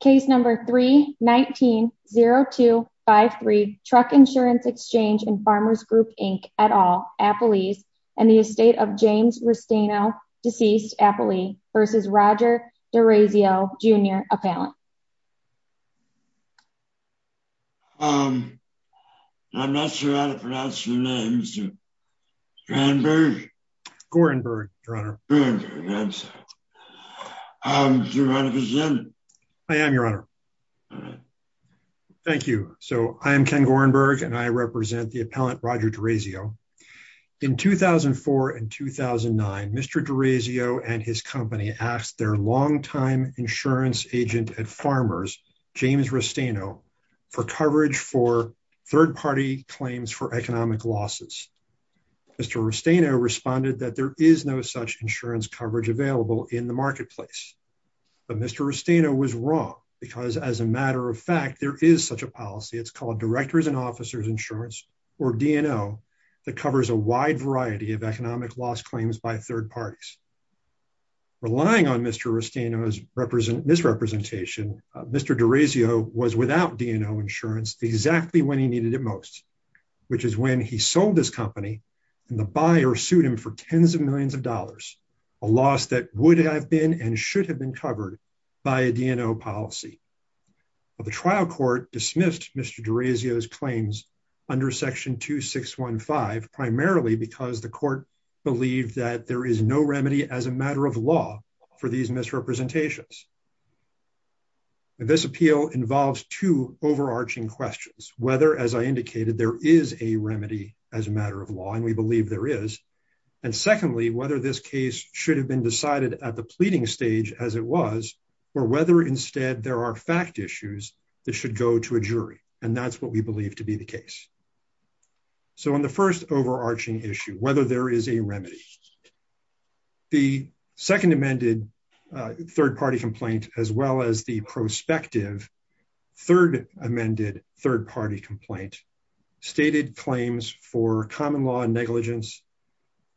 Case number 3-19-0253, Truck Insurance Exchange and Farmers Group Inc. et al. Appley's and the estate of James Restaino, deceased Appley v. Roger D'Orazio Jr. Appellant. I'm not sure how to pronounce your name, Mr. Gorenberg? Gorenberg, Your Honor. Do you want to present? I am, Your Honor. Thank you. So, I am Ken Gorenberg and I represent the appellant, Roger D'Orazio. In 2004 and 2009, Mr. D'Orazio and his company asked their long-time insurance agent at Farmers, James Restaino, for coverage for third-party claims for economic losses. Mr. Restaino responded that there is no such insurance coverage available in the marketplace. But Mr. Restaino was wrong because, as a matter of fact, there is such a policy. It's called Directors and Officers Insurance, or DNO, that covers a wide variety of economic loss claims by third parties. Relying on Mr. Restaino's misrepresentation, Mr. D'Orazio was without DNO insurance exactly when he needed it most, which is when he sold his company and the buyer sued him for tens of millions of dollars, a loss that would have been and should have been covered by a DNO policy. But the trial court dismissed Mr. D'Orazio's claims under Section 2615, primarily because the court believed that there is no remedy as a matter of law for these misrepresentations. This appeal involves two overarching questions, whether, as I indicated, there is a remedy as a matter of law, and we believe there is. And secondly, whether this case should have been decided at the pleading stage as it was, or whether instead there are fact issues that should go to a jury. And that's what we believe to be the case. So on the first overarching issue, whether there is a remedy, the second amended third party complaint, as well as the prospective third amended third party complaint, stated claims for common law negligence,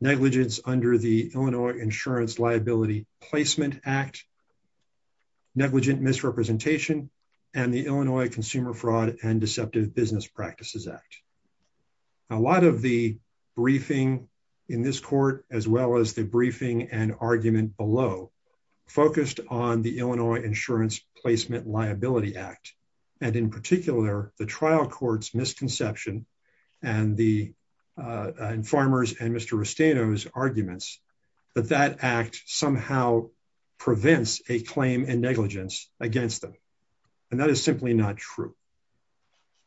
negligence under the Illinois Insurance Liability Placement Act, negligent misrepresentation, and the Illinois Consumer Fraud and Deceptive Business Practices Act. A lot of the briefing in this court, as well as the briefing and argument below, focused on the Illinois Insurance Placement Liability Act, and in particular, the trial court's misconception and the farmers and Mr. Restaino's arguments that that act somehow prevents a claim and negligence against them. And that is simply not true.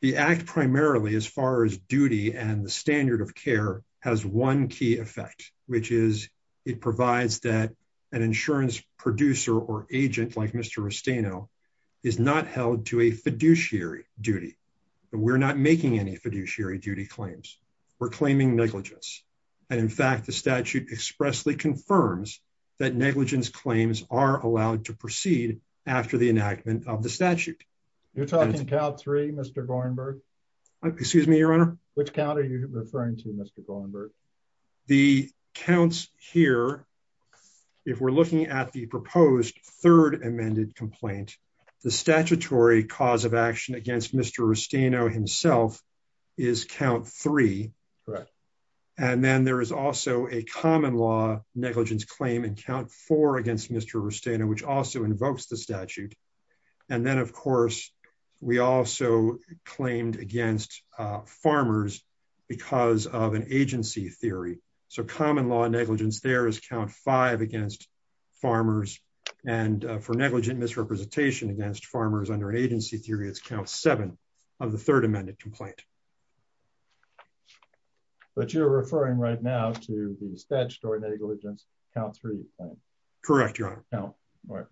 The act primarily, as far as duty and the standard of care, has one key effect, which is it provides that an insurance producer or agent like Mr. Restaino is not held to a fiduciary duty. We're not making any fiduciary duty claims. We're claiming negligence. And in fact, the statute expressly confirms that negligence claims are allowed to proceed after the enactment of the statute. You're talking count three, Mr. Gorenberg. Excuse me, Your Honor. Which count are you referring to, Mr. Gorenberg? The counts here, if we're looking at the proposed third amended complaint, the statutory cause of action against Mr. Restaino himself is count three. Correct. And then there is also a common law negligence claim in count four against Mr. Restaino, which also invokes the statute. And then, of course, we also claimed against farmers because of an agency theory. So common law negligence there is count five against farmers. And for negligent misrepresentation against farmers under an agency theory, it's count seven of the third amended complaint. But you're referring right now to the statutory negligence count three claim. Correct, Your Honor.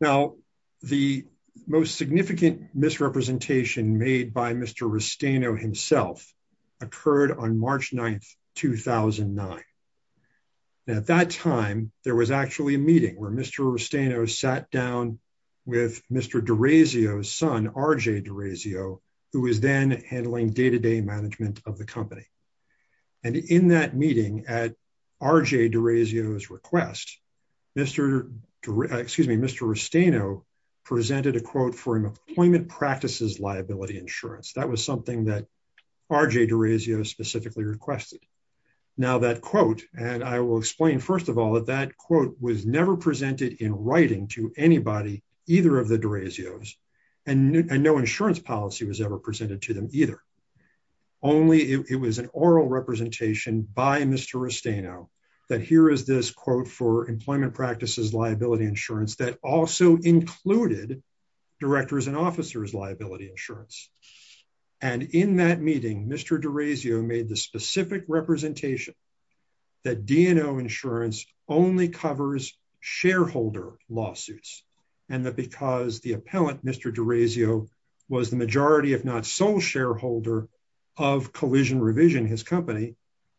Now, the most significant misrepresentation made by Mr. Restaino himself occurred on March 9th, 2009. At that time, there was actually a meeting where Mr. Restaino sat down with Mr. DeRazio's son, RJ DeRazio, who was then handling day-to-day management of the company. And in that meeting, at RJ DeRazio's request, Mr. Restaino presented a quote for employment practices liability insurance. That was something that RJ DeRazio specifically requested. Now, that quote, and I will explain, first of all, that that quote was never presented in writing to anybody, either of the DeRazios, and no insurance policy was ever presented to them either. Only it was an oral representation by Mr. Restaino that here is this quote for employment practices liability insurance that also included directors and officers liability insurance. And in that meeting, Mr. DeRazio made the specific representation that D&O insurance only covers shareholder lawsuits. And that because the appellant, Mr. DeRazio, was the majority, if not sole shareholder of Collision Revision, his company,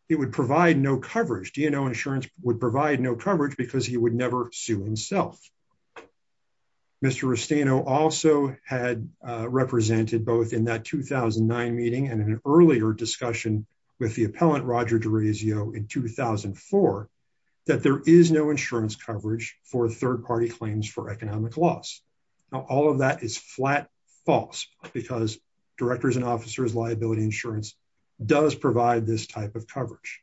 it would provide no coverage. D&O insurance would provide no coverage because he would never sue himself. Mr. Restaino also had represented both in that 2009 meeting and in an earlier discussion with the appellant, Roger DeRazio, in 2004, that there is no insurance coverage for third economic loss. Now, all of that is flat false because directors and officers liability insurance does provide this type of coverage.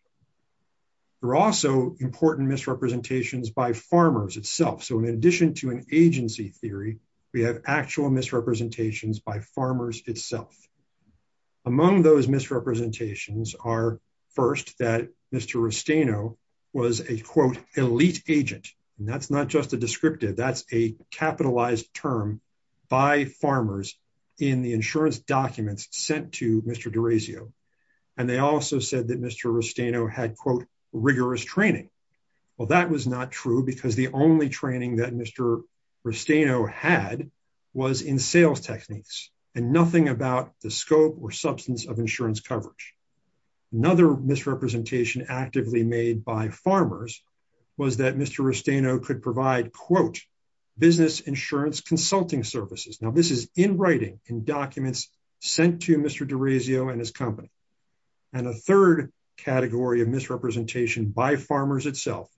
There are also important misrepresentations by farmers itself. So, in addition to an agency theory, we have actual misrepresentations by farmers itself. Among those misrepresentations are, first, that Mr. Restaino was a, quote, elite agent. That's not just a descriptive. That's a capitalized term by farmers in the insurance documents sent to Mr. DeRazio. And they also said that Mr. Restaino had, quote, rigorous training. Well, that was not true because the only training that Mr. Restaino had was in sales techniques and nothing about the scope or substance of insurance coverage. Another misrepresentation actively made by farmers was that Mr. Restaino could provide, quote, business insurance consulting services. Now, this is in writing, in documents sent to Mr. DeRazio and his company. And a third category of misrepresentation by farmers itself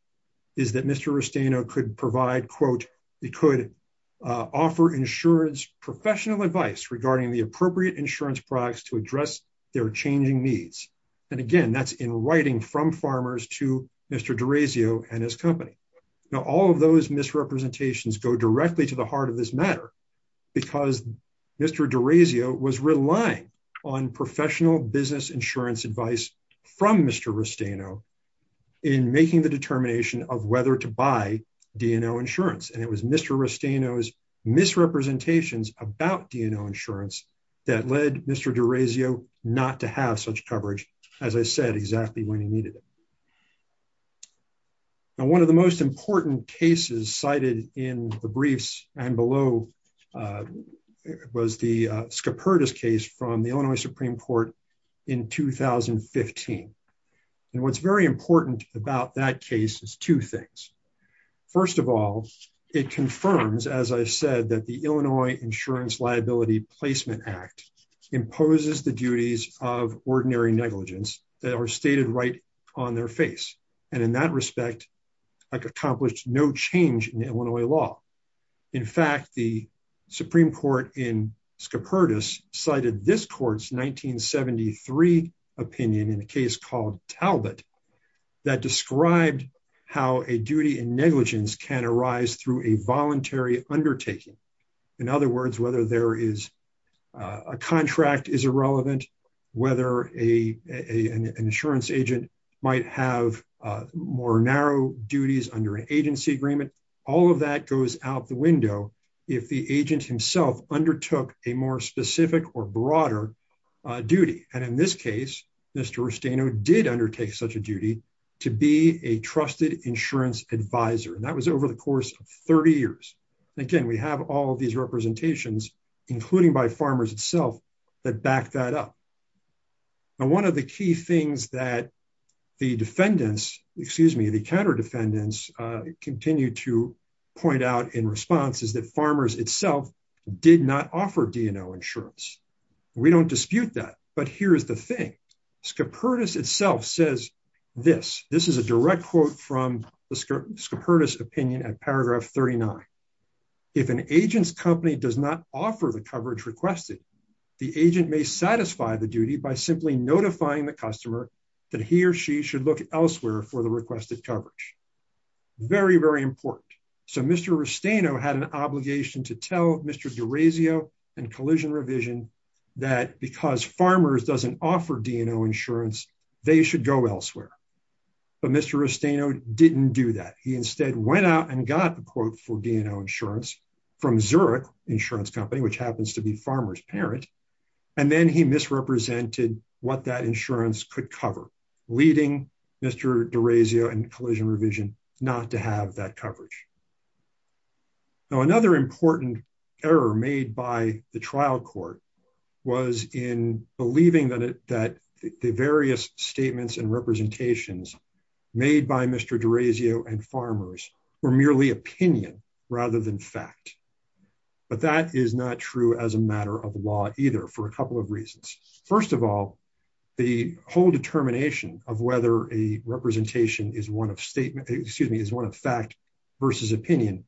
is that Mr. Restaino could provide, quote, he could offer insurance professional advice regarding the appropriate insurance products to address their changing needs. And again, that's in writing from farmers to Mr. DeRazio and his company. Now, all of those misrepresentations go directly to the heart of this matter because Mr. DeRazio was relying on professional business insurance advice from Mr. Restaino in making the determination of whether to buy D&O Insurance. And it was Mr. Restaino's misrepresentations about D&O Insurance that led Mr. DeRazio not to have such coverage, as I said, exactly when he needed it. Now, one of the most important cases cited in the briefs and below was the Scopertas case from the Illinois Supreme Court in 2015. And what's very important about that case is two things. First of all, it confirms, as I said, that the Illinois Insurance Liability Placement Act imposes the duties of ordinary negligence that are stated right on their face. And in that respect, accomplished no change in Illinois law. In fact, the Supreme Court in Scopertas cited this court's 1973 opinion in a case called Talbot that described how a duty in negligence can arise through a voluntary undertaking. In other words, whether there is a contract is irrelevant, whether an insurance agent might have more narrow duties under an agency agreement, all of that goes out the window if the agent himself undertook a more specific or broader duty. And in this case, Mr. Rusteno did undertake such a duty to be a trusted insurance advisor. And that was over the course of 30 years. Again, we have all of these representations, including by Farmers itself, that back that up. Now, one of the key things that the defendants, excuse me, the counter defendants, continue to point out in response is that Farmers itself did not offer DNO insurance. We don't dispute that. But here's the thing. Scopertas itself says this. This is a direct quote from the Scopertas opinion at paragraph 39. If an agent's company does not offer the coverage requested, the agent may satisfy the duty by simply notifying the customer that he or she should look elsewhere for the requested coverage. Very, very important. So Mr. Rusteno had an obligation to tell Mr. DeRazio and Collision Revision that because Farmers doesn't offer DNO insurance, they should go elsewhere. But Mr. Rusteno didn't do that. He instead went out and got the quote for DNO insurance from Zurich Insurance Company, which happens to be Farmers' parent. And then he misrepresented what that insurance could cover, leading Mr. DeRazio and Collision that coverage. Now, another important error made by the trial court was in believing that the various statements and representations made by Mr. DeRazio and Farmers were merely opinion rather than fact. But that is not true as a matter of law either for a couple of reasons. First of all, the whole determination of whether a representation is one of statement, excuse me, is one of fact versus opinion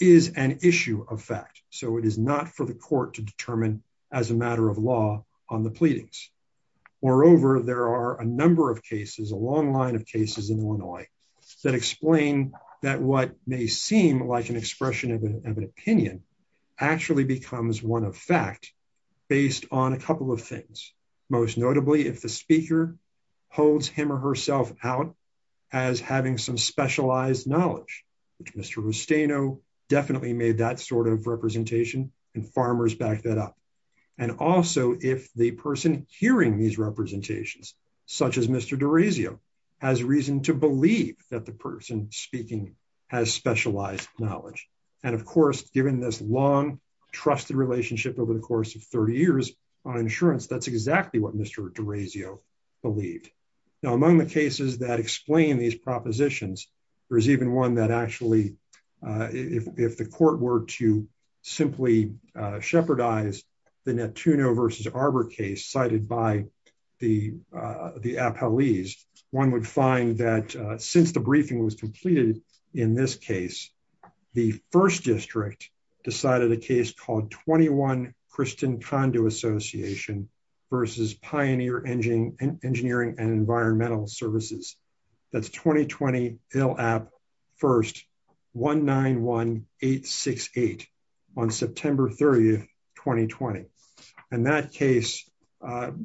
is an issue of fact. So it is not for the court to determine as a matter of law on the pleadings. Moreover, there are a number of cases, a long line of cases in Illinois that explain that what may seem like an expression of an opinion actually becomes one of fact based on a couple of things. Most notably, if the speaker holds him or herself out as having some specialized knowledge, which Mr. Rusteno definitely made that sort of representation and Farmers backed that up. And also, if the person hearing these representations, such as Mr. DeRazio, has reason to believe that the person speaking has specialized knowledge. And of course, given this long, trusted relationship over the course of 30 years on insurance, that's exactly what Mr. DeRazio believed. Now, among the cases that explain these propositions, there's even one that actually, if the court were to simply shepherd eyes, the Netuno versus Arbor case cited by the appellees, one would find that since the briefing was completed in this case, the first district decided a case called 21 Christian Conduit Association versus Pioneer Engineering and Environmental Services. That's 2020 LAP 1st, 191868 on September 30th, 2020. And that case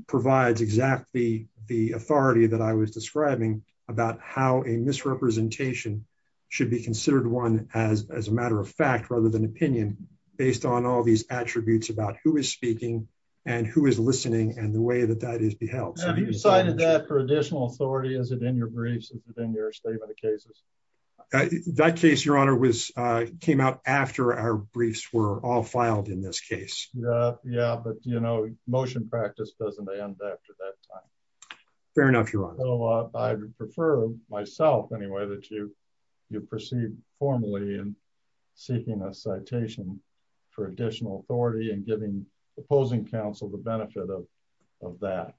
provides exactly the authority that I was describing about how a misrepresentation should be considered one as a matter of fact, rather than opinion, based on all these attributes about who is speaking and who is listening and the way that that is beheld. Have you cited that for additional authority? Is it in your briefs? Is it in your statement of cases? That case, Your Honor, came out after our briefs were all filed in this case. Yeah, but you know, motion practice doesn't end after that time. Fair enough, Your Honor. I prefer myself anyway, that you you proceed formally and seeking a citation for additional authority and giving opposing counsel the benefit of that,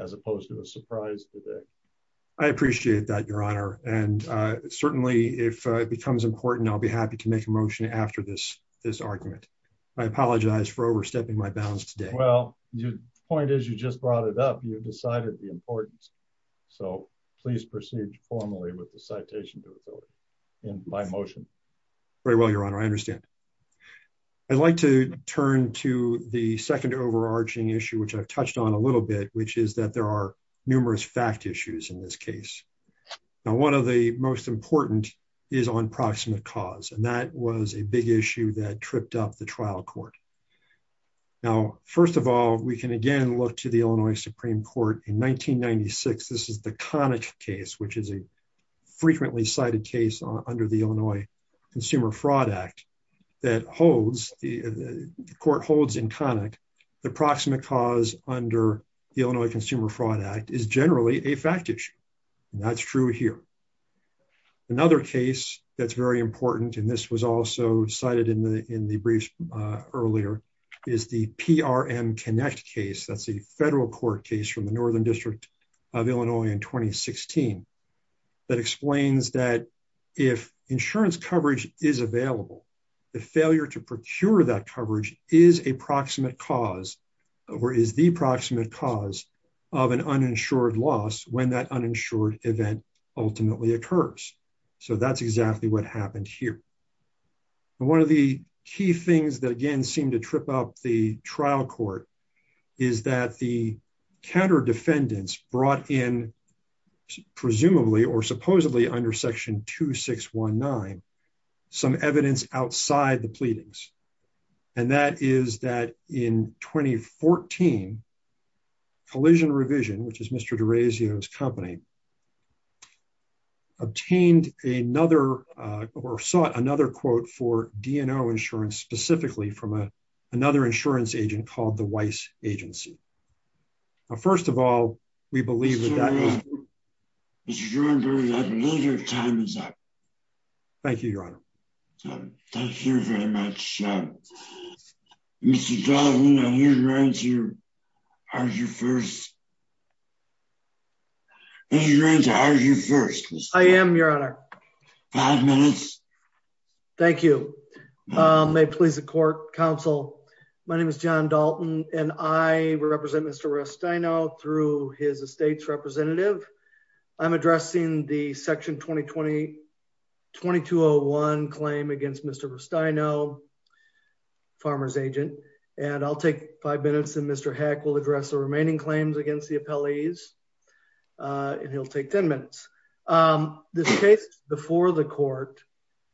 as opposed to a surprise today. I appreciate that, Your Honor. And certainly, if it becomes important, I'll be happy to make a motion after this, this argument. I apologize for overstepping my bounds today. Well, your point is, you just brought it up, you've decided the importance. So please proceed formally with the citation to ability in my motion. Very well, Your Honor, I understand. I'd like to turn to the second overarching issue, which I've touched on a little bit, which is that there are numerous fact issues in this case. Now, one of the most important is on proximate cause. And that was a big issue that tripped up the trial court. Now, first of all, we can again look to the Illinois Supreme Court in 1996. This is the Connick case, which is a frequently cited case under the Illinois Consumer Fraud Act that holds the court holds in Connick. The proximate cause under the Illinois Consumer Fraud Act is generally a fact issue. That's true here. Another case that's very important, and this was also cited in the in the brief earlier, is the PRM Connect case. That's a federal court case from the Northern District of Illinois in 2016 that explains that if insurance coverage is available, the failure to procure that coverage is a proximate cause or is the proximate cause of an uninsured loss when that uninsured event ultimately occurs. So that's exactly what happened here. And one of the key things that again seemed to trip up the trial court is that the counter defendants brought in, presumably or supposedly under Section 2619, some evidence outside the pleadings. And that is that in 2014, Collision Revision, which is Mr. DeRazio's company, obtained another or sought another quote for DNO insurance, specifically from another insurance agent called the Weiss Agency. First of all, we believe that that is true. Mr. Jordan, I believe your time is up. Thank you, Your Honor. Thank you very much. Mr. Dahl, who's going to argue first? Who's going to argue first? I am, Your Honor. Five minutes. Thank you. May it please the court, counsel. My name is John Dalton and I represent Mr. Restaino through his estate's representative. I'm addressing the Section 2020-2201 claim against Mr. Restaino, farmer's agent. And I'll take five minutes and Mr. Heck will address the remaining claims against the appellees. And he'll take 10 minutes. This case is before the court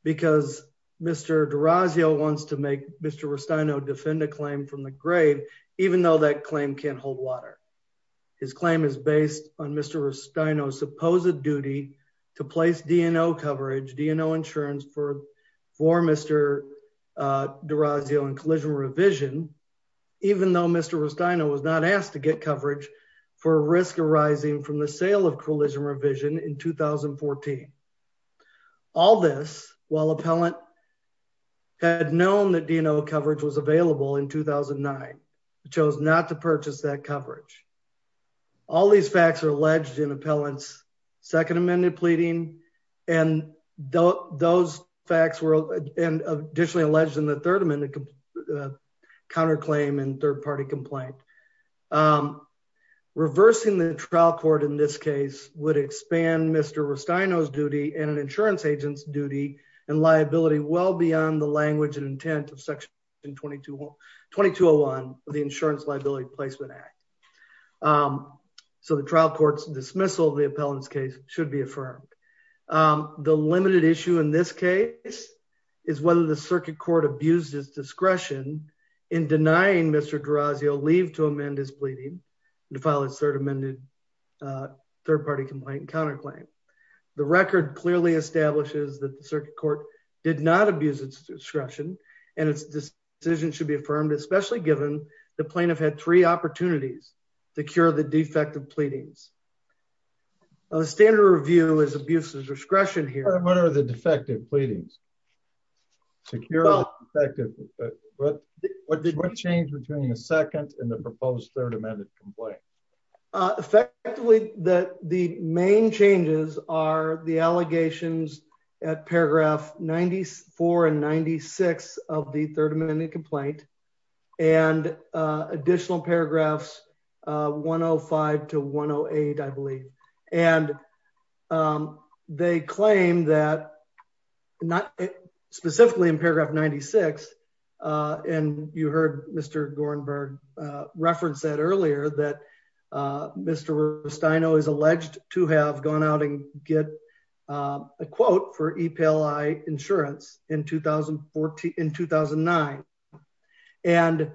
because Mr. DeRazio wants to make Mr. Restaino defend a claim from the grave, even though that claim can't hold water. His claim is based on Mr. Restaino's supposed duty to place DNO coverage, DNO insurance for Mr. DeRazio and Collision Revision, even though Mr. Restaino was not asked to get coverage for risk arising from the sale of Collision Revision in 2014. All this while appellant had known that DNO coverage was available in 2009, chose not to purchase that coverage. All these facts are alleged in appellant's second amended pleading. And those facts were additionally alleged in the third amendment counterclaim and third party complaint. Reversing the trial court in this case would expand Mr. Restaino's duty and an insurance agent's duty and liability well beyond the language and intent of Section 2201 of the Insurance Liability Placement Act. So the trial court's dismissal of the appellant's case should be affirmed. The limited issue in this case is whether the circuit court abused his discretion in denying Mr. DeRazio leave to amend his pleading. And to file a third amended third party complaint and counterclaim. The record clearly establishes that the circuit court did not abuse its discretion. And this decision should be affirmed, especially given the plaintiff had three opportunities to cure the defective pleadings. The standard review is abuse of discretion here. And what are the defective pleadings? To cure the defective pleadings. What did what changed between the second and the proposed third amended complaint? Effectively, that the main changes are the allegations at paragraph 94 and 96 of the third amendment complaint and additional paragraphs 105 to 108, I believe. And they claim that not specifically in paragraph 96. And you heard Mr. Gorenberg reference that earlier that Mr. Rustino is alleged to have gone out and get a quote for EPLI insurance in 2014, in 2009. And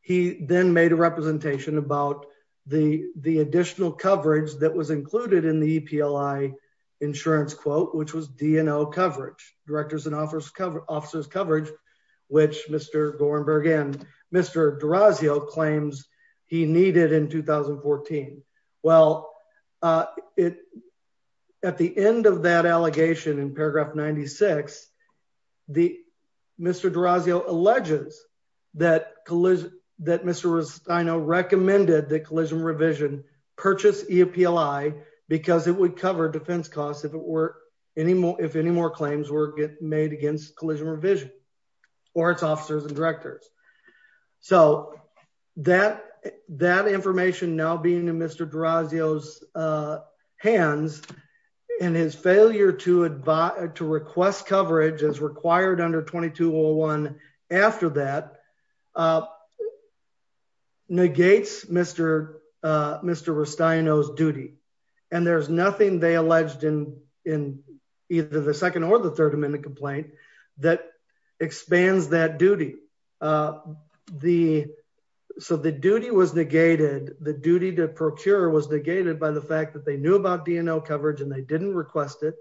he then made a representation about the additional coverage that was included in the EPLI insurance quote, which was DNO coverage, directors and officers coverage, which Mr. Gorenberg and Mr. DeRazio claims he needed in 2014. Well, at the end of that allegation in paragraph 96, Mr. DeRazio alleges that Mr. Rustino recommended that Collision Revision purchase EPLI because it would cover defense costs if any more claims were made against Collision Revision or its officers and directors. So that information now being in Mr. DeRazio's hands and his failure to request coverage as required under 2201 after that negates Mr. Mr. Rustino's duty. And there's nothing they alleged in either the second or the third amendment complaint that expands that duty. The, so the duty was negated. The duty to procure was negated by the fact that they knew about DNO coverage and they didn't request it.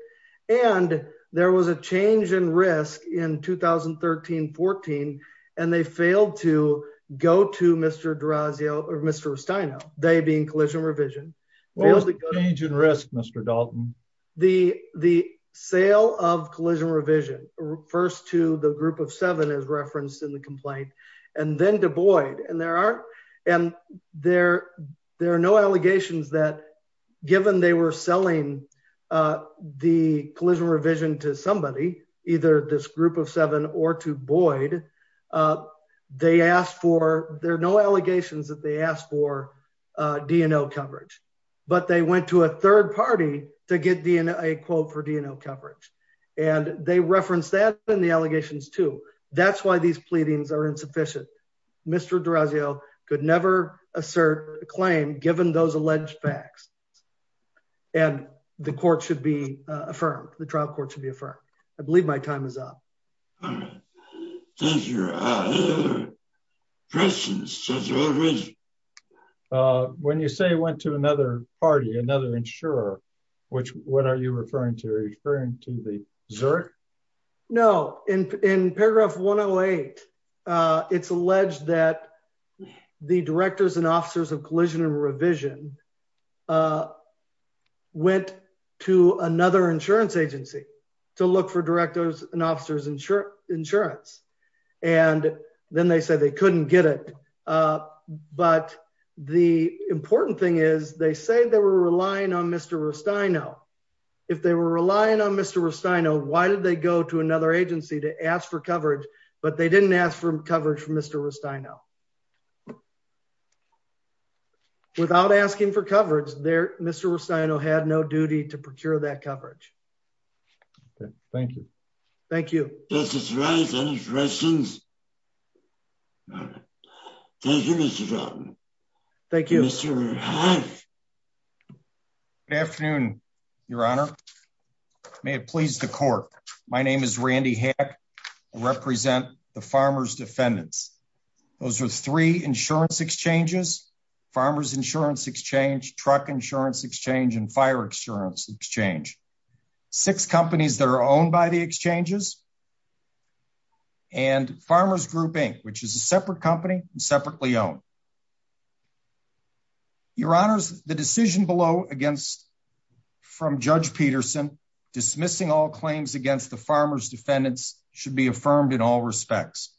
And there was a change in risk in 2013, 14, and they failed to go to Mr. DeRazio or Mr. Rustino, they being Collision Revision. What was the change in risk, Mr. Dalton? The, the sale of Collision Revision first to the group of seven is referenced in the complaint and then to Boyd and there are, and there, there are no allegations that given they were selling the Collision Revision to somebody, either this group of seven or to Boyd, they asked for, there are no allegations that they asked for DNO coverage, but they went to a third party to get a quote for DNO coverage. And they referenced that in the allegations too. That's why these pleadings are insufficient. Mr. DeRazio could never assert a claim given those alleged facts and the court should be affirmed. The trial court should be affirmed. I believe my time is up. Thank you. When you say went to another party, another insurer, which, what are you referring to? Are you referring to the ZURC? No. In, in paragraph 108, it's alleged that the directors and officers of Collision and Insurance. And then they said they couldn't get it. But the important thing is they say they were relying on Mr. Rustino. If they were relying on Mr. Rustino, why did they go to another agency to ask for coverage, but they didn't ask for coverage from Mr. Rustino? Without asking for coverage there, Mr. Rustino had no duty to procure that coverage. Thank you. Thank you. Any questions? Thank you, Mr. John. Thank you. Good afternoon, your honor. May it please the court. My name is Randy Hack. I represent the Farmers Defendants. Those are three insurance exchanges, Farmers Insurance Exchange, Truck Insurance Exchange and Fire Insurance Exchange. Six companies that are owned by the exchanges. And Farmers Group Inc., which is a separate company and separately owned. Your honors, the decision below against from Judge Peterson dismissing all claims against the Farmers Defendants should be affirmed in all respects.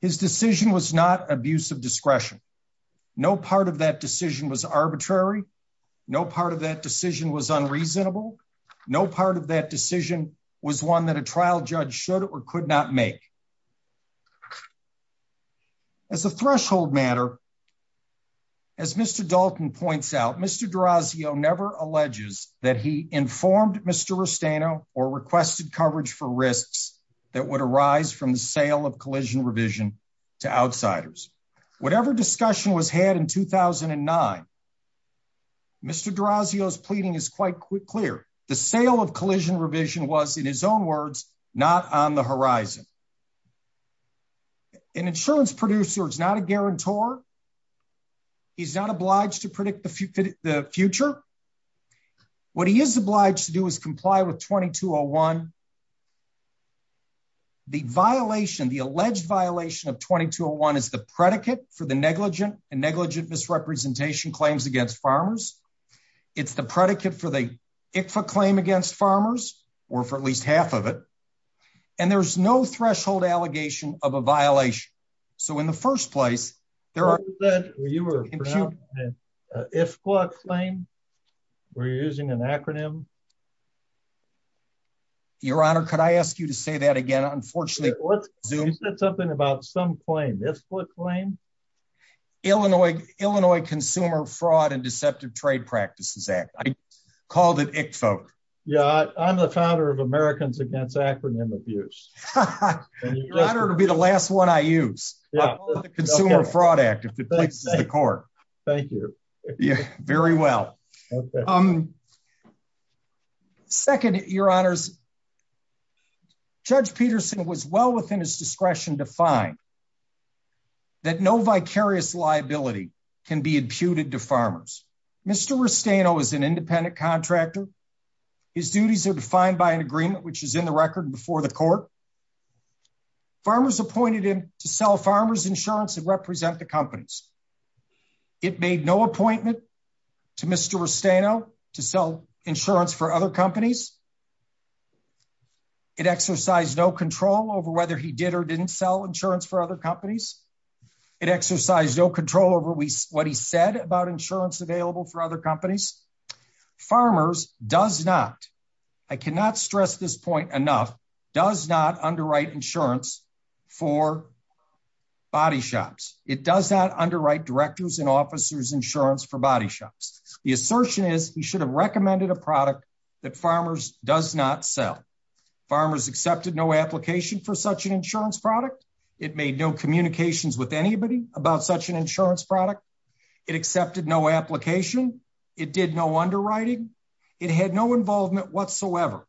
His decision was not abuse of discretion. No part of that decision was arbitrary. No part of that decision was unreasonable. No part of that decision was one that a trial judge should or could not make. As a threshold matter, as Mr. Dalton points out, Mr. D'Orazio never alleges that he informed Mr. Rustino or requested coverage for risks that would arise from the sale of collision revision to outsiders. Whatever discussion was had in 2009, Mr. D'Orazio's pleading is quite clear. The sale of collision revision was, in his own words, not on the horizon. An insurance producer is not a guarantor. He's not obliged to predict the future. What he is obliged to do is comply with 2201. The violation, the alleged violation of 2201 is the predicate for the negligent and negligent misrepresentation claims against farmers. It's the predicate for the ICFA claim against farmers, or for at least half of it. And there's no threshold allegation of a violation. So in the first place, there are. You said you were pronouncing an IFCWA claim. Were you using an acronym? Your Honor, could I ask you to say that again? Unfortunately, let's zoom. You said something about some claim, IFCWA claim. Illinois Consumer Fraud and Deceptive Trade Practices Act. I called it ICFA. Yeah, I'm the founder of Americans Against Acronym Abuse. Your Honor, it'll be the last one I use. I'll call it the Consumer Fraud Act if it pleases the court. Thank you. Very well. Second, Your Honors, Judge Peterson was well within his discretion to find that no vicarious liability can be imputed to farmers. Mr. Rustano is an independent contractor. His duties are defined by an agreement, which is in the record before the court. Farmers appointed him to sell farmers insurance and represent the companies. It made no appointment to Mr. Rustano to sell insurance for other companies. It exercised no control over whether he did or didn't sell insurance for other companies. It exercised no control over what he said about insurance available for other companies. Farmers does not, I cannot stress this point enough, does not underwrite insurance for body shops. It does not underwrite directors and officers insurance for body shops. The assertion is he should have recommended a product that farmers does not sell. Farmers accepted no application for such an insurance product. It made no communications with anybody about such an insurance product. It accepted no application. It did no underwriting. It had no involvement whatsoever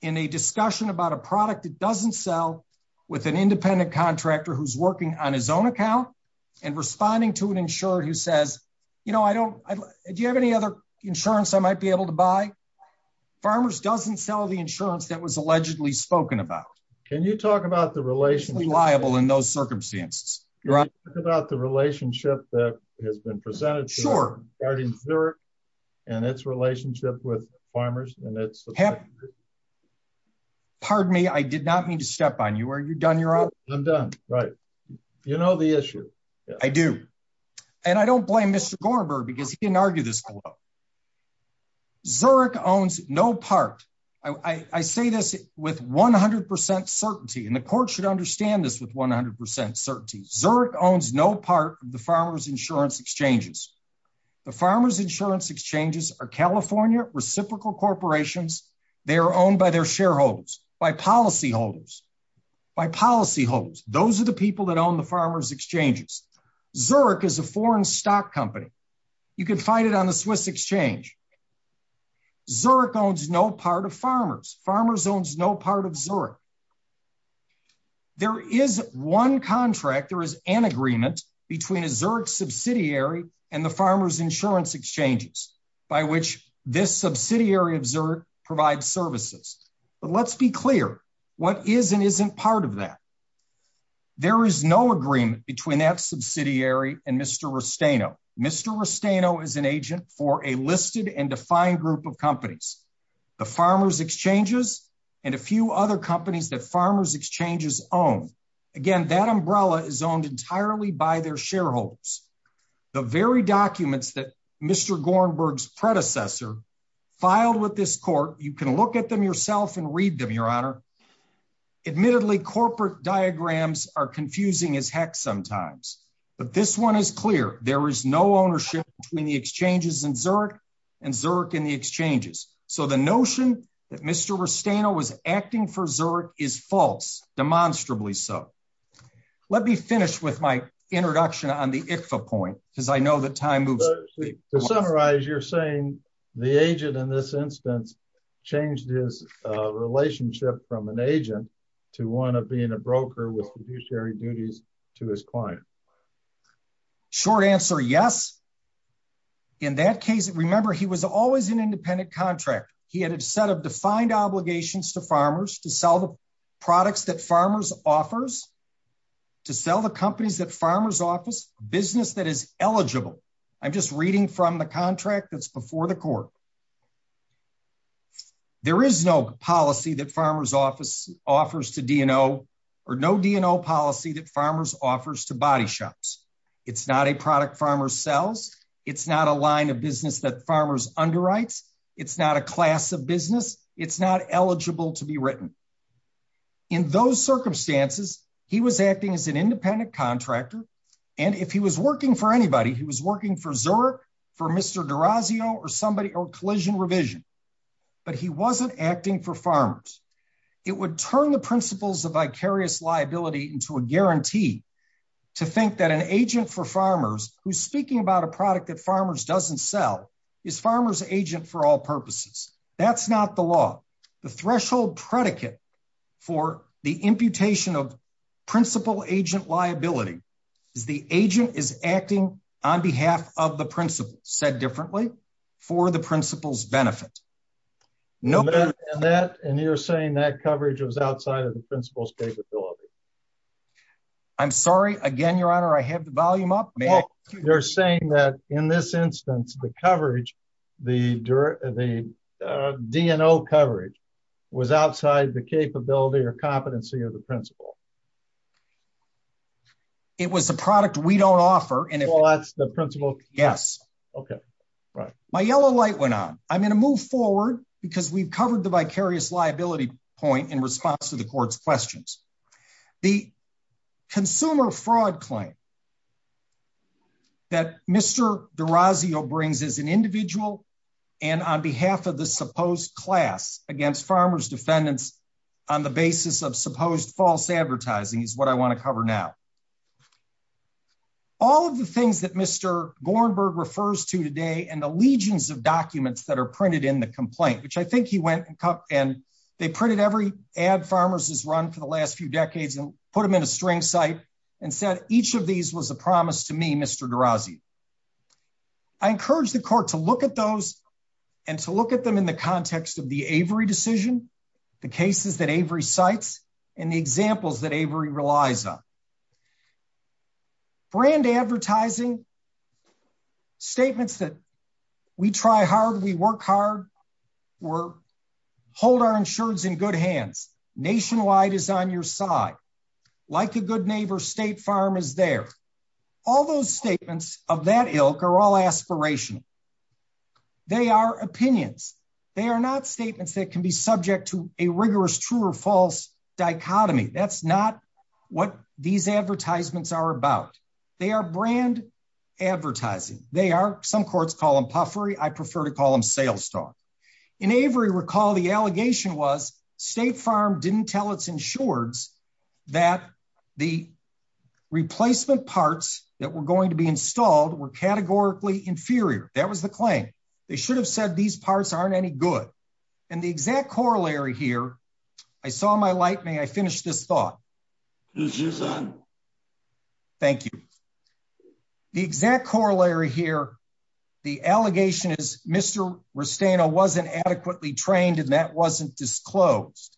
in a discussion about a product that doesn't sell with an independent contractor who's working on his own account and responding to an insured who says, you know, I don't, do you have any other insurance I might be able to buy? Farmers doesn't sell the insurance that was allegedly spoken about. Can you talk about the relationship? Reliable in those circumstances. Can you talk about the relationship that has been presented regarding Zurich and its relationship with farmers? Pardon me. I did not mean to step on you. Are you done? You're out. I'm done. Right. You know the issue. I do. And I don't blame Mr. Gornberg because he didn't argue this below. Zurich owns no part. I say this with 100% certainty, and the court should understand this with 100% certainty. Zurich owns no part of the farmers insurance exchanges. The farmers insurance exchanges are California reciprocal corporations. They are owned by their shareholders, by policy holders, by policy holders. Those are the people that own the farmers exchanges. Zurich is a foreign stock company. You can find it on the Swiss exchange. Zurich owns no part of farmers. Farmers owns no part of Zurich. There is one contract. There is an agreement between a Zurich subsidiary and the farmers insurance exchanges by which this subsidiary of Zurich provides services. But let's be clear. What is and isn't part of that? There is no agreement between that subsidiary and Mr. Rustaino. Mr. Rustaino is an agent for a listed and defined group of companies, the farmers exchanges, and a few other companies that farmers exchanges own. Again, that umbrella is owned entirely by their shareholders. The very documents that Mr. Gornberg's predecessor filed with this court, you can look at them yourself and read them, Your Honor. Admittedly, corporate diagrams are confusing as heck sometimes. But this one is clear. There is no ownership between the exchanges in Zurich and Zurich in the exchanges. So the notion that Mr. Rustaino was acting for Zurich is false, demonstrably so. Let me finish with my introduction on the ICFA point, because I know that time moves. To summarize, you're saying the agent in this instance changed his relationship from an agent to one of being a broker with fiduciary duties to his client. Short answer, yes. In that case, remember, he was always an independent contract. He had a set of defined obligations to farmers to sell the products that farmers offers, to sell the companies that farmers office, business that is eligible. I'm just reading from the contract that's before the court. There is no policy that farmers office offers to DNO or no DNO policy that farmers offers to body shops. It's not a product farmers sells. It's not a line of business that farmers underwrites. It's not a class of business. It's not eligible to be written. In those circumstances, he was acting as an independent contractor. And if he was working for anybody, he was working for Zurich, for Mr. D'Orazio or somebody or collision revision. But he wasn't acting for farmers. It would turn the principles of vicarious liability into a guarantee to think that an agent for farmers who's speaking about a product that farmers doesn't sell is farmers agent for all purposes. That's not the law. The threshold predicate for the imputation of principal agent liability is the agent is acting on behalf of the principal said differently for the principal's benefit. No. And you're saying that coverage was outside of the principal's capability. I'm sorry. Again, your honor, I have the volume up. You're saying that in this instance, the coverage, the DNO coverage was outside the capability or competency of the principal. It was a product we don't offer. And that's the principal. Yes. Okay. Right. My yellow light went on. I'm going to move forward because we've covered the vicarious liability point in response to the court's questions. The consumer fraud claim that Mr. D'Orazio brings as an individual and on behalf of the supposed class against farmers defendants on the basis of supposed false advertising is what I want to cover now. All of the things that Mr. Gornberg refers to today and the legions of documents that are printed in the complaint, which I think he went and they printed every ad farmers has run for the last few decades and put them in a string site and said, each of these was a promise to me, Mr. D'Orazio. I encourage the court to look at those and to look at them in the context of the Avery decision, the cases that Avery cites and the examples that Avery relies on. Brand advertising statements that we try hard, we work hard, we're hold our insurance in good hands. Nationwide is on your side. Like a good neighbor, State Farm is there. All those statements of that ilk are all aspirational. They are opinions. They are not statements that can be subject to a rigorous true or false dichotomy. That's not what these advertisements are about. They are brand advertising. They are, some courts call them puffery. I prefer to call them sales talk. In Avery recall, the allegation was State Farm didn't tell its insureds that the replacement parts that were going to be installed were categorically inferior. That was the claim. They should have said these parts aren't any good. And the exact corollary here, I saw my light. May I finish this thought? This is on. Thank you. The exact corollary here, the allegation is Mr. Rustano wasn't adequately trained and that wasn't disclosed.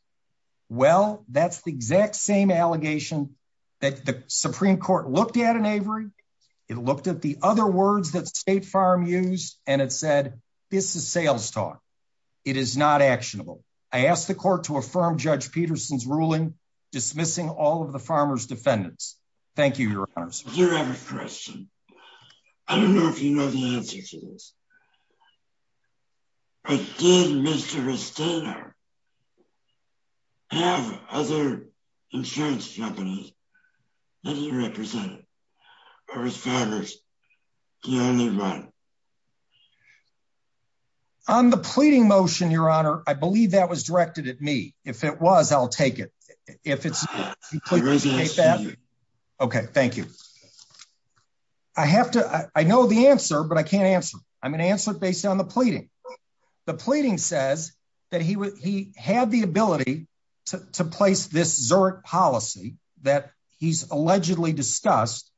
Well, that's the exact same allegation that the Supreme Court looked at in Avery. It looked at the other words that State Farm used and it said, this is sales talk. It is not actionable. I asked the court to affirm Judge Peterson's ruling, dismissing all of the farmer's defendants. Thank you, your honors. Do you have a question? I don't know if you know the answer to this. But did Mr. Rustano have other insurance companies that he represented or was farmers the only one? On the pleading motion, your honor, I believe that was directed at me. If it was, I'll take it. Okay, thank you. I have to, I know the answer, but I can't answer. I'm going to answer it based on the pleading. The pleading says that he had the ability to place this Zurich policy that he's allegedly discussed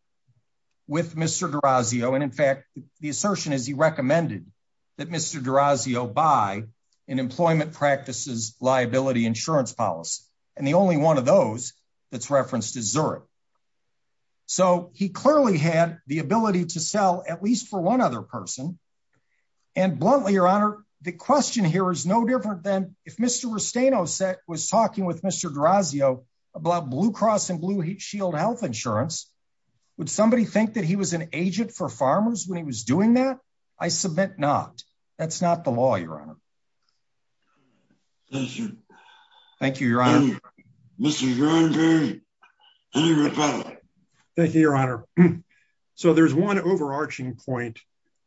with Mr. D'Orazio. And in fact, the assertion is he recommended that Mr. D'Orazio buy an employment practices liability insurance policy. And the only one of those that's referenced is Zurich. So he clearly had the ability to sell at least for one other person. And bluntly, your honor, the question here is no different than if Mr. Rustano was talking with Mr. D'Orazio about Blue Cross and Blue Shield health insurance. Would somebody think that he was an agent for farmers when he was doing that? I submit not. That's not the law, your honor. Thank you, your honor. Thank you, your honor. So there's one overarching point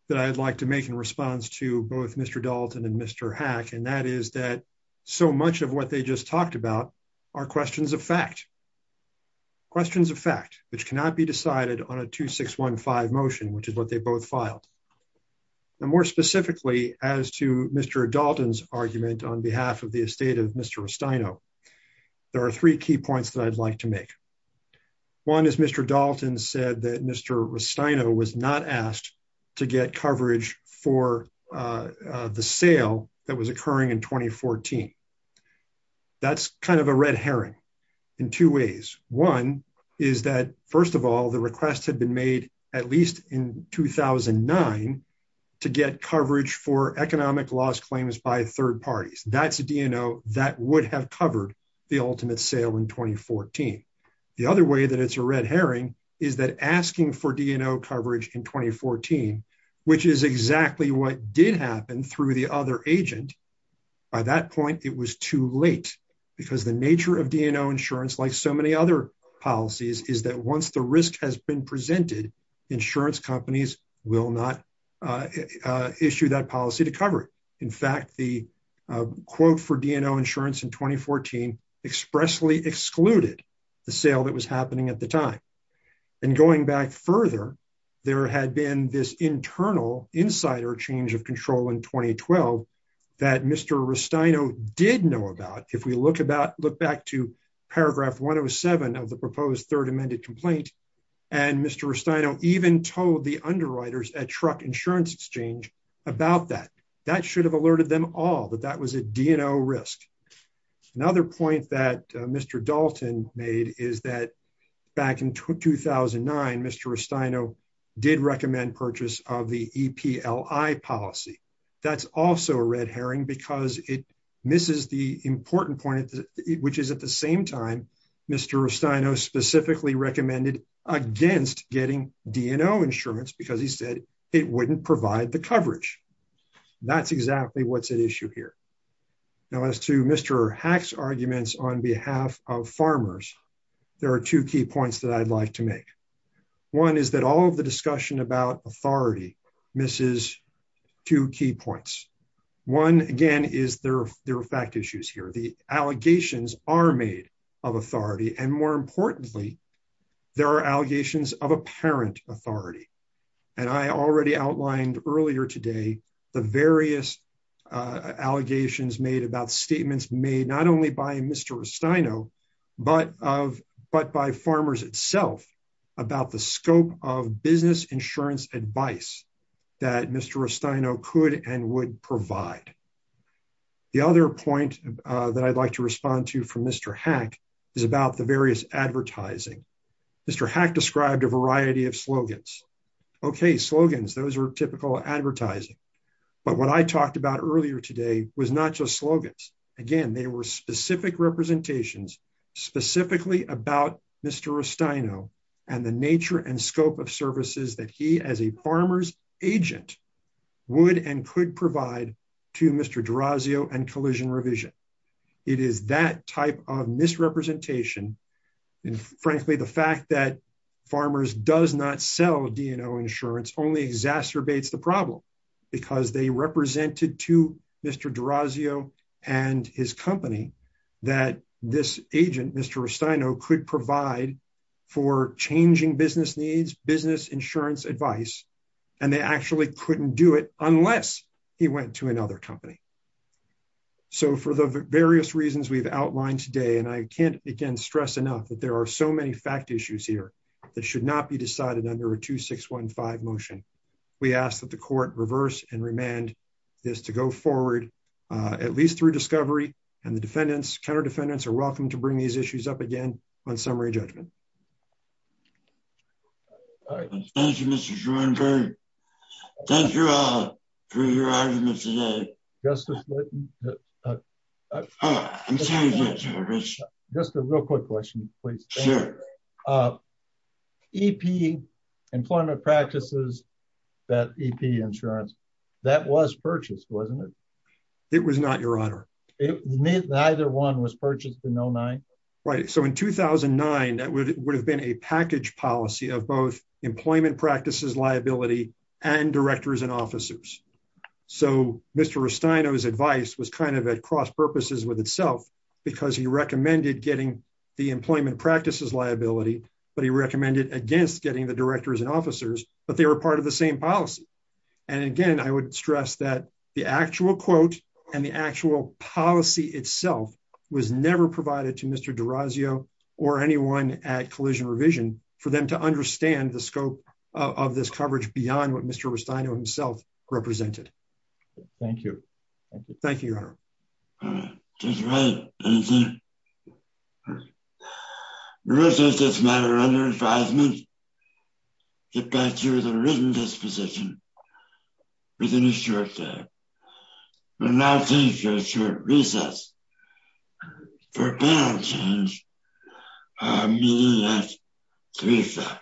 that I'd like to make in response to both Mr. Dalton and Mr. Hack. And that is that so much of what they just talked about are questions of fact. Questions of fact, which cannot be decided on a 2615 motion, which is what they both filed. And more specifically as to Mr. Dalton's argument on behalf of the estate of Mr. Rustano, there are three key points that I'd like to make. One is Mr. Dalton said that Mr. Rustano was not asked to get coverage for the sale that was occurring in 2014. That's kind of a red herring in two ways. One is that first of all, the request had been made at least in 2009 to get coverage for economic loss claims by third parties. That's a DNO that would have covered the ultimate sale in 2014. The other way that it's a red herring is that asking for DNO coverage in 2014, which is exactly what did happen through the other agent. By that point, it was too late because the nature of DNO insurance like so many other policies is that once the risk has been presented, insurance companies will not issue that policy to cover it. In fact, the quote for DNO insurance in 2014 expressly excluded the sale that was happening at the time. And going back further, there had been this internal insider change of control in 2012 that Mr. Rustano did know about. If we look back to paragraph 107 of the proposed third amended complaint, and Mr. Rustano even told the underwriters at Truck Insurance Exchange about that, that should have alerted them all that that was a DNO risk. Another point that Mr. Dalton made is that back in 2009, Mr. Rustano did recommend purchase of the EPLI policy. That's also a red herring because it misses the important point, which is at the same time, Mr. Rustano specifically recommended against getting DNO insurance because he said it wouldn't provide the coverage. That's exactly what's at issue here. Now as to Mr. Hack's arguments on behalf of farmers, there are two key points that I'd like to make. One is that all of the discussion about authority misses two key points. One, again, is there are fact issues here. The allegations are made of authority. And more importantly, there are allegations of apparent authority. And I already outlined earlier today, the various allegations made about statements made not only by Mr. Rustano, but by farmers itself about the scope of business insurance advice that Mr. Rustano could and would provide. The other point that I'd like to respond to from Mr. Hack is about the various advertising. Mr. Hack described a variety of slogans. Okay, slogans, those are typical advertising. But what I talked about earlier today was not just slogans. Again, they were specific representations specifically about Mr. Rustano and the nature and scope of services that he as a farmer's agent would and could provide to Mr. D'Orazio and Collision Revision. It is that type of misrepresentation. And frankly, the fact that farmers does not sell DNO insurance only exacerbates the problem because they represented to Mr. D'Orazio and his company that this agent, Mr. Rustano could provide for changing business needs, business insurance advice. And they actually couldn't do it unless he went to another company. So for the various reasons we've outlined today, and I can't, again, stress enough that there are so many fact issues here that should not be decided under a 2615 motion. We ask that the court reverse and remand this to go forward at least through discovery and the defendants, counter defendants are welcome to bring these issues up again on summary judgment. Thank you, Mr. Schoenberg. Thank you all for your argument today. Justice Litton. Just a real quick question, please. EP, Employment Practices, that EP insurance, that was purchased, wasn't it? It was not, Your Honor. It neither one was purchased in 09? Right, so in 2009, that would have been a package policy of both employment practices, liability and directors and officers. So Mr. Restaino's advice was kind of at cross purposes with itself because he recommended getting the employment practices liability, but he recommended against getting the directors and officers, but they were part of the same policy. And again, I would stress that the actual quote and the actual policy itself was never provided to Mr. D'Orazio or anyone at Collision Revision for them to understand the scope of this coverage beyond what Mr. Restaino himself represented. Thank you. Thank you, Your Honor. Judge Wright, anything? We will take this matter under advisement, get back to you with a written disposition within a short time. We will now take a short recess for panel change, and I'll see you next week, sir.